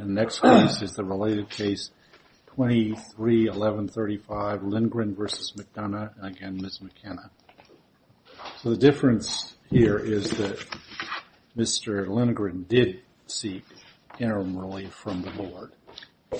and the next case is the related case 23-1135 Lindgren versus McDonough and again Ms. McKenna. So the difference here is that Mr. Lindgren did seek interim relief from the board.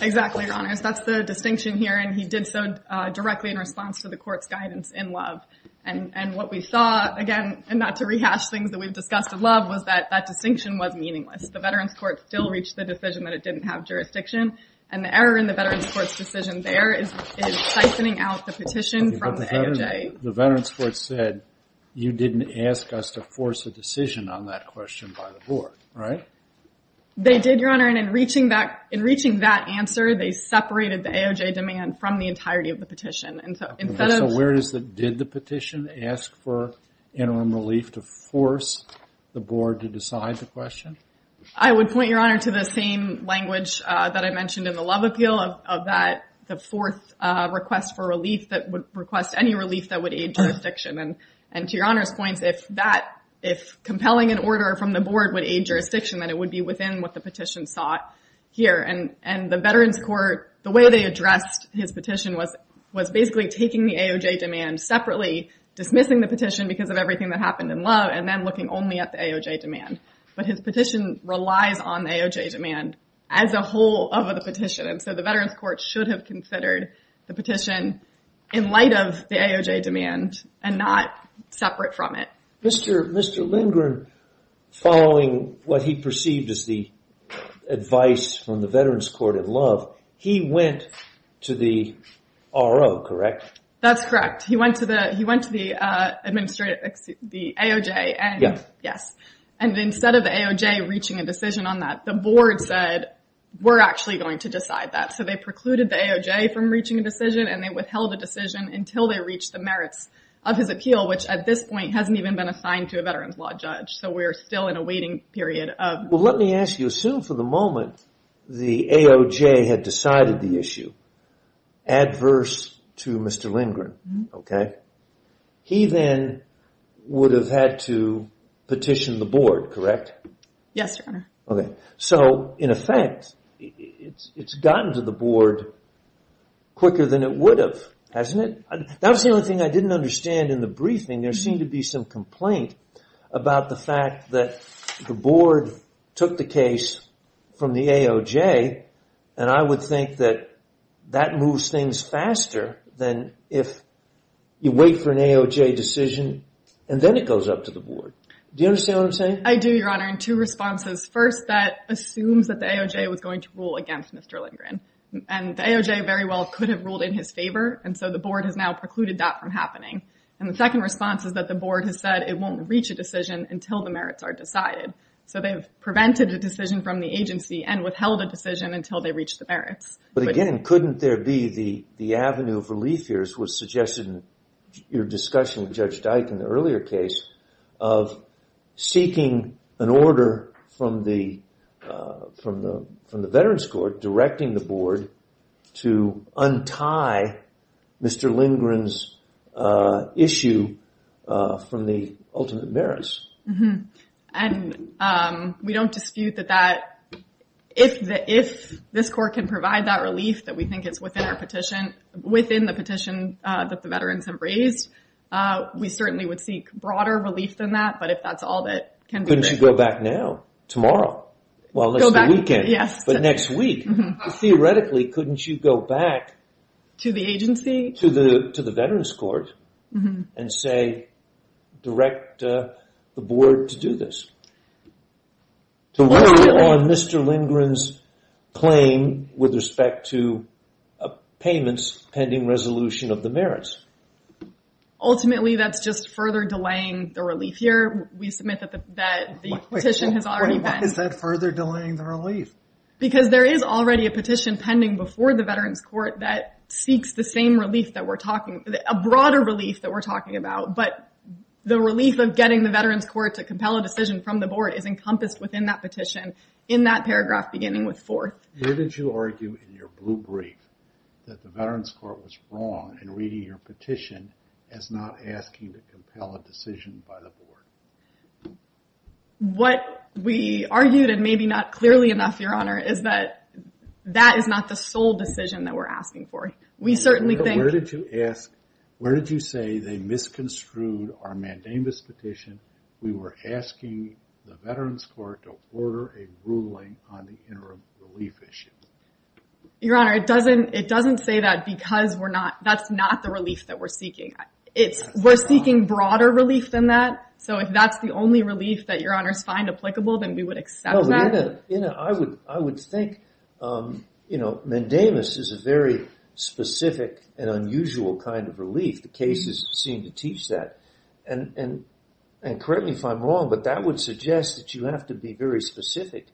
Exactly, your honors. That's the distinction here and he did so directly in response to the court's guidance in Love. And what we saw, again, and not to rehash things that we've discussed in Love, was that that distinction was meaningless. The veterans court still reached the decision that it didn't have jurisdiction. And the error in the veterans court's decision there is siphoning out the petition from the AOJ. The veterans court said you didn't ask us to force a decision on that question by the board, right? They did, your honor, and in reaching that answer they separated the AOJ demand from the entirety of the petition. So did the petition ask for interim relief to force the board to decide the question? I would point, your honor, to the same language that I mentioned in the Love appeal, of that the fourth request for relief that would request any relief that would aid jurisdiction. And to your honors' points, if compelling an order from the board would aid jurisdiction, then it would be within what the petition sought here. And the veterans court, the way they addressed his petition was basically taking the AOJ demand separately, dismissing the petition because of everything that happened in Love, and then looking only at the AOJ demand. But his petition relies on the AOJ demand as a whole of the petition. And so the veterans court should have considered the petition in light of the AOJ demand and not separate from it. Mr. Lindgren, following what he perceived as the advice from the veterans court at Love, he went to the RO, correct? That's correct. He went to the AOJ. Yes. And instead of the AOJ reaching a decision on that, the board said, we're actually going to decide that. So they precluded the AOJ from reaching a decision and they withheld a decision until they reached the merits of his appeal, which at this point hasn't even been assigned to a veterans law judge. So we're still in a waiting period. Well, let me ask you, assume for the moment the AOJ had decided the issue adverse to Mr. Lindgren. He then would have had to petition the board, correct? Yes, your honor. So in effect, it's gotten to the board quicker than it would have, hasn't it? That was the only thing I didn't understand in the briefing. There seemed to be some complaint about the fact that the board took the case from the AOJ. And I would think that that moves things faster than if you wait for an AOJ decision and then it goes up to the board. Do you understand what I'm saying? I do, your honor. And two responses. First, that assumes that the AOJ was going to rule against Mr. Lindgren. And the AOJ very well could have ruled in his favor. And so the board has now precluded that from happening. And the second response is that the board has said it won't reach a decision until the merits are decided. So they've prevented a decision from the agency and withheld a decision until they reached the merits. But again, couldn't there be the avenue of relief here, as was suggested in your discussion with Judge Dyke in the earlier case, of seeking an order from the veterans court directing the board to untie Mr. Lindgren's issue from the ultimate merits? And we don't dispute that if this court can provide that relief that we think is within the petition that the veterans have raised, we certainly would seek broader relief than that. But if that's all that can be said. Couldn't you go back now? Go back, yes. Well, it's the weekend. But next week. Theoretically, couldn't you go back to the agency? To the veterans court and say, direct the board to do this? To rely on Mr. Lindgren's claim with respect to payments pending resolution of the merits? Ultimately, that's just further delaying the relief here. We submit that the petition has already been. Why is that further delaying the relief? Because there is already a petition pending before the veterans court that seeks the same relief that we're talking, a broader relief that we're talking about. But the relief of getting the veterans court to compel a decision from the board is encompassed within that petition in that paragraph beginning with fourth. Where did you argue in your blue brief that the veterans court was wrong in reading your petition as not asking to compel a decision by the board? What we argued and maybe not clearly enough, Your Honor, is that that is not the sole decision that we're asking for. We certainly think. Where did you ask? Where did you say they misconstrued our mandamus petition? We were asking the veterans court to order a ruling on the interim relief issue. Your Honor, it doesn't say that because we're not. That's not the relief that we're seeking. We're seeking broader relief than that. So if that's the only relief that your honors find applicable, then we would accept that. I would think, you know, mandamus is a very specific and unusual kind of relief. The cases seem to teach that. And correct me if I'm wrong, but that would suggest that you have to be very specific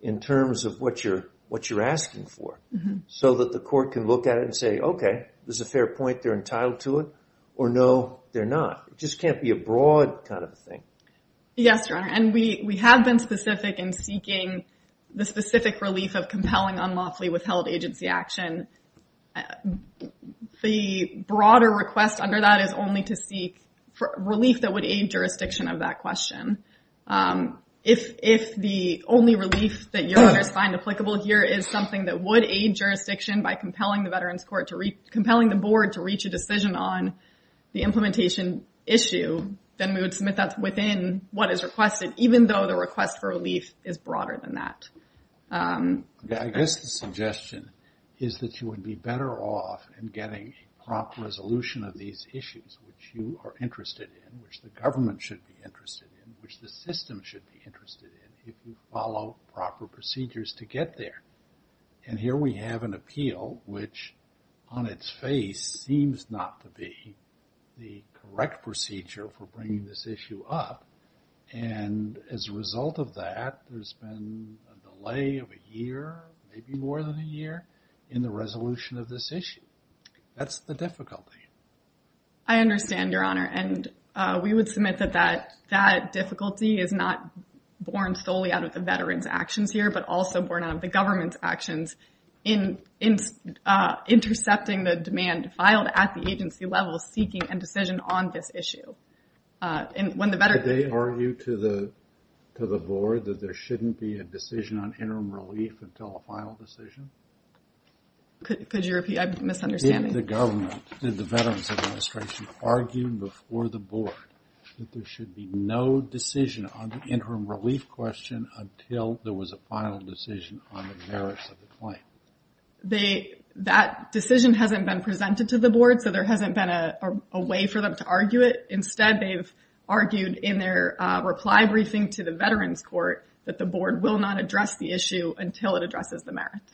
in terms of what you're asking for so that the court can look at it and say, okay, there's a fair point. They're entitled to it. Or no, they're not. It just can't be a broad kind of thing. Yes, Your Honor. And we have been specific in seeking the specific relief of compelling unlawfully withheld agency action. The broader request under that is only to seek relief that would aid jurisdiction of that question. If the only relief that your honors find applicable here is something that would aid jurisdiction by compelling the veterans court to compelling the board to reach a decision on the implementation issue, then we would submit that within what is requested, even though the request for relief is broader than that. I guess the suggestion is that you would be better off in getting a prompt resolution of these issues, which you are interested in, which the government should be interested in, which the system should be interested in, if you follow proper procedures to get there. And here we have an appeal, which on its face seems not to be the correct procedure for bringing this issue up. And as a result of that, there's been a delay of a year, maybe more than a year, in the resolution of this issue. That's the difficulty. I understand, Your Honor. And we would submit that that difficulty is not born solely out of the veterans' actions here, but also born out of the government's actions in intercepting the demand filed at the agency level seeking a decision on this issue. Could they argue to the board that there shouldn't be a decision on interim relief until a final decision? Could you repeat? I'm misunderstanding. Did the government, did the Veterans Administration argue before the board that there should be no decision on the interim relief question until there was a final decision on the merits of the claim? That decision hasn't been presented to the board, so there hasn't been a way for them to argue it. Instead, they've argued in their reply briefing to the Veterans Court that the board will not address the issue until it addresses the merits.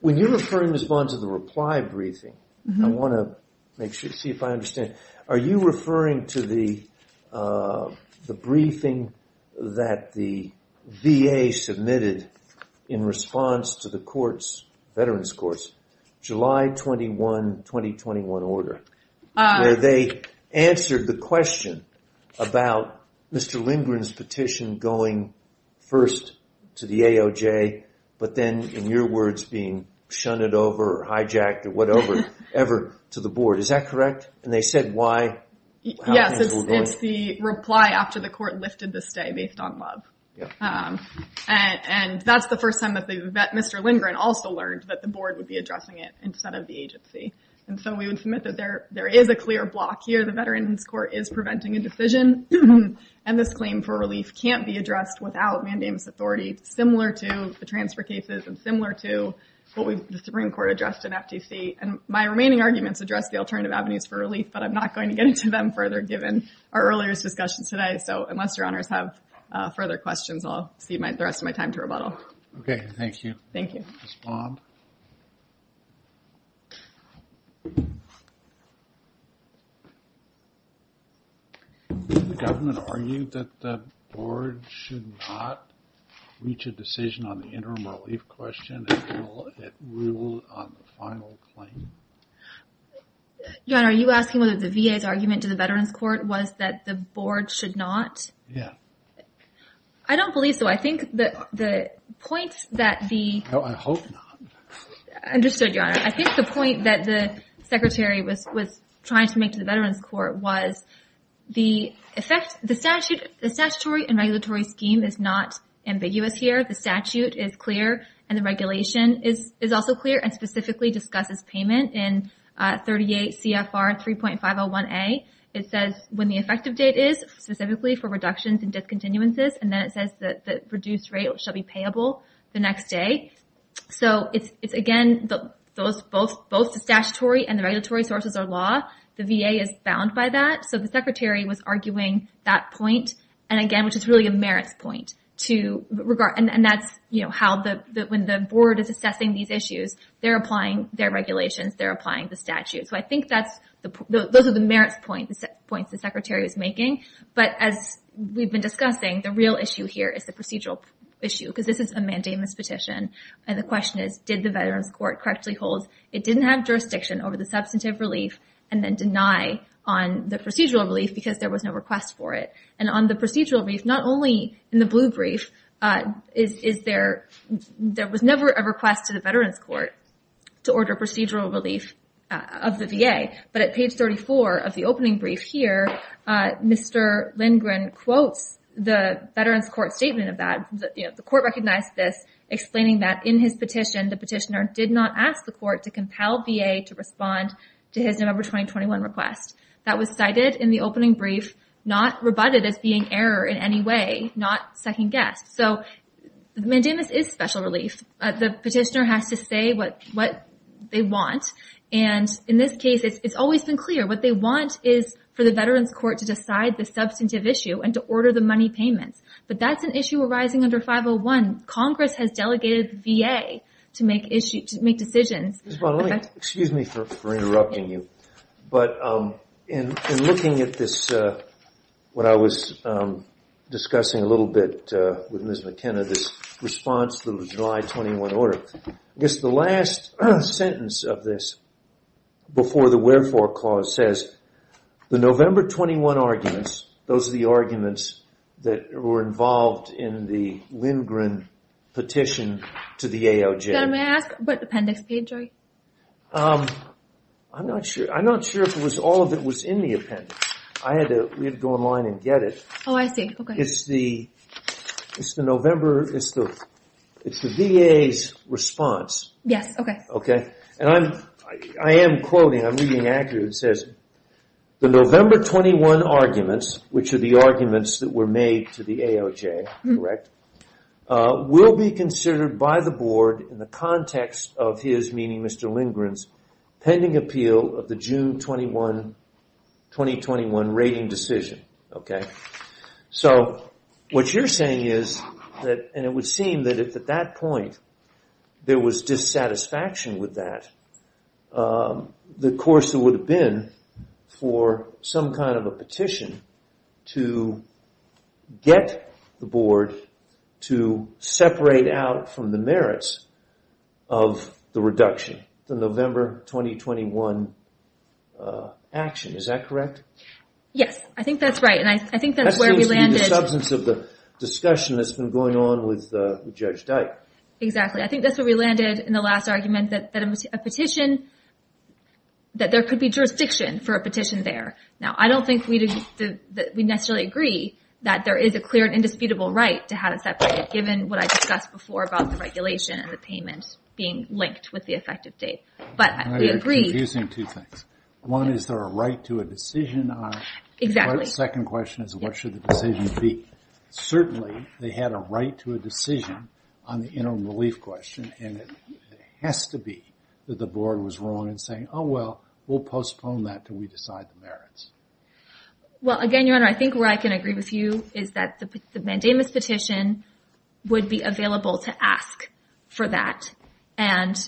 When you're referring to the response to the reply briefing, I want to make sure, see if I understand. Are you referring to the briefing that the VA submitted in response to the court's, Veterans Court's, July 21, 2021 order, where they answered the question about Mr. Lindgren's petition going first to the AOJ, but then, in your words, being shunned over, hijacked, or whatever, ever to the board. Is that correct? And they said why? Yes, it's the reply after the court lifted the stay based on love. And that's the first time that Mr. Lindgren also learned that the board would be addressing it instead of the agency. And so we would submit that there is a clear block here. The Veterans Court is preventing a decision, and this claim for relief can't be addressed without mandamus authority, similar to the transfer cases and similar to what the Supreme Court addressed in FTC. And my remaining arguments address the alternative avenues for relief, but I'm not going to get into them further given our earlier discussions today. So unless your honors have further questions, I'll cede the rest of my time to rebuttal. Okay, thank you. Thank you. Ms. Baum. Did the government argue that the board should not reach a decision on the interim relief question until it ruled on the final claim? Your Honor, are you asking whether the VA's argument to the Veterans Court was that the board should not? Yeah. I don't believe so. I think that the point that the No, I hope not. Understood, Your Honor. I think the point that the Secretary was trying to make to the Veterans Court was the effect, the statutory and regulatory scheme is not ambiguous here. The statute is clear and the regulation is also clear and specifically discusses payment in 38 CFR 3.501A. It says when the effective date is, specifically for reductions and discontinuances, and then it says that the reduced rate shall be payable the next day. So it's, again, both the statutory and the regulatory sources are law. The VA is bound by that. So the Secretary was arguing that point, and again, which is really a merits point to regard, and that's how when the board is assessing these issues, they're applying their regulations, they're applying the statute. So I think those are the merits points the Secretary was making. But as we've been discussing, the real issue here is the procedural issue, because this is a mandamus petition, and the question is, did the Veterans Court correctly hold, it didn't have jurisdiction over the substantive relief and then deny on the procedural relief because there was no request for it. And on the procedural brief, not only in the blue brief, there was never a request to the Veterans Court to order procedural relief of the VA, but at page 34 of the opening brief here, Mr. Lindgren quotes the Veterans Court statement of that. The court recognized this, explaining that in his petition, the petitioner did not ask the court to compel VA to respond to his November 2021 request. That was cited in the opening brief, not rebutted as being error in any way, not second guess. So mandamus is special relief. The petitioner has to say what they want. And in this case, it's always been clear. What they want is for the Veterans Court to decide the substantive issue and to order the money payments. But that's an issue arising under 501. Congress has delegated the VA to make decisions. Excuse me for interrupting you, but in looking at this, when I was discussing a little bit with Ms. McKenna this response to the July 21 order, I guess the last sentence of this before the wherefore clause says, the November 21 arguments, those are the arguments that were involved in the Lindgren petition to the AOJ. May I ask what appendix page are you? I'm not sure if all of it was in the appendix. We had to go online and get it. Oh, I see. It's the VA's response. Yes, okay. Okay. And I am quoting, I'm reading accurately, it says, the November 21 arguments, which are the arguments that were made to the AOJ, correct, will be considered by the board in the context of his, meaning Mr. Lindgren's, pending appeal of the June 21, 2021 rating decision. Okay. So what you're saying is that, and it would seem that if at that point there was dissatisfaction with that, the course it would have been for some kind of a petition to get the board to separate out from the merits of the reduction, the November 2021 action. Is that correct? Yes. I think that's right. And I think that's where we landed. That seems to be the substance of the discussion that's been going on with Judge Dyke. Exactly. I think that's where we landed in the last argument that a petition, that there could be jurisdiction for a petition there. Now, I don't think we necessarily agree that there is a clear and indisputable right to have it separated, given what I discussed before about the regulation and the payment being linked with the effective date. But we agree. You're confusing two things. One, is there a right to a decision on it? Exactly. The second question is, what should the decision be? Certainly, they had a right to a decision on the interim relief question. And it has to be that the board was wrong in saying, oh, well, we'll postpone that until we decide the merits. Well, again, Your Honor, I think where I can agree with you is that the mandamus petition would be available to ask for that. And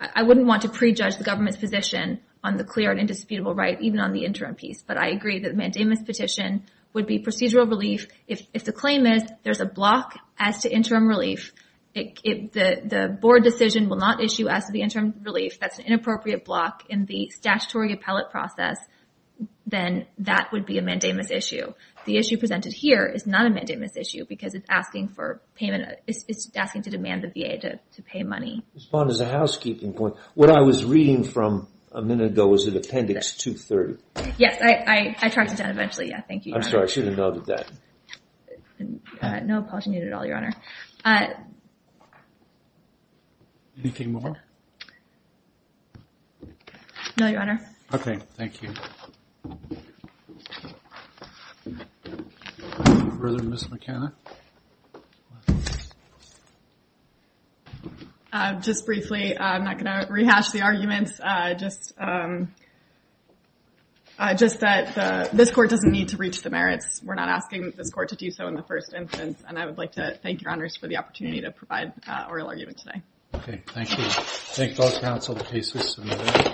I wouldn't want to prejudge the government's position on the clear and indisputable right, even on the interim piece. But I agree that the mandamus petition would be procedural relief. If the claim is there's a block as to interim relief, the board decision will not issue as to the interim relief. That's an inappropriate block in the statutory appellate process. Then that would be a mandamus issue. The issue presented here is not a mandamus issue because it's asking to demand the VA to pay money. Respond as a housekeeping point. What I was reading from a minute ago was an appendix 230. Yes, I tracked it down eventually. Yeah, thank you, Your Honor. I'm sorry. I should have noted that. No apology needed at all, Your Honor. Anything more? No, Your Honor. Okay, thank you. Further, Ms. McKenna? Just briefly, I'm not going to rehash the arguments. Just that this court doesn't need to reach the merits. We're not asking this court to do so in the first instance. And I would like to thank Your Honors for the opportunity to provide oral argument today. Okay, thank you. Thank all counsel. The case is submitted.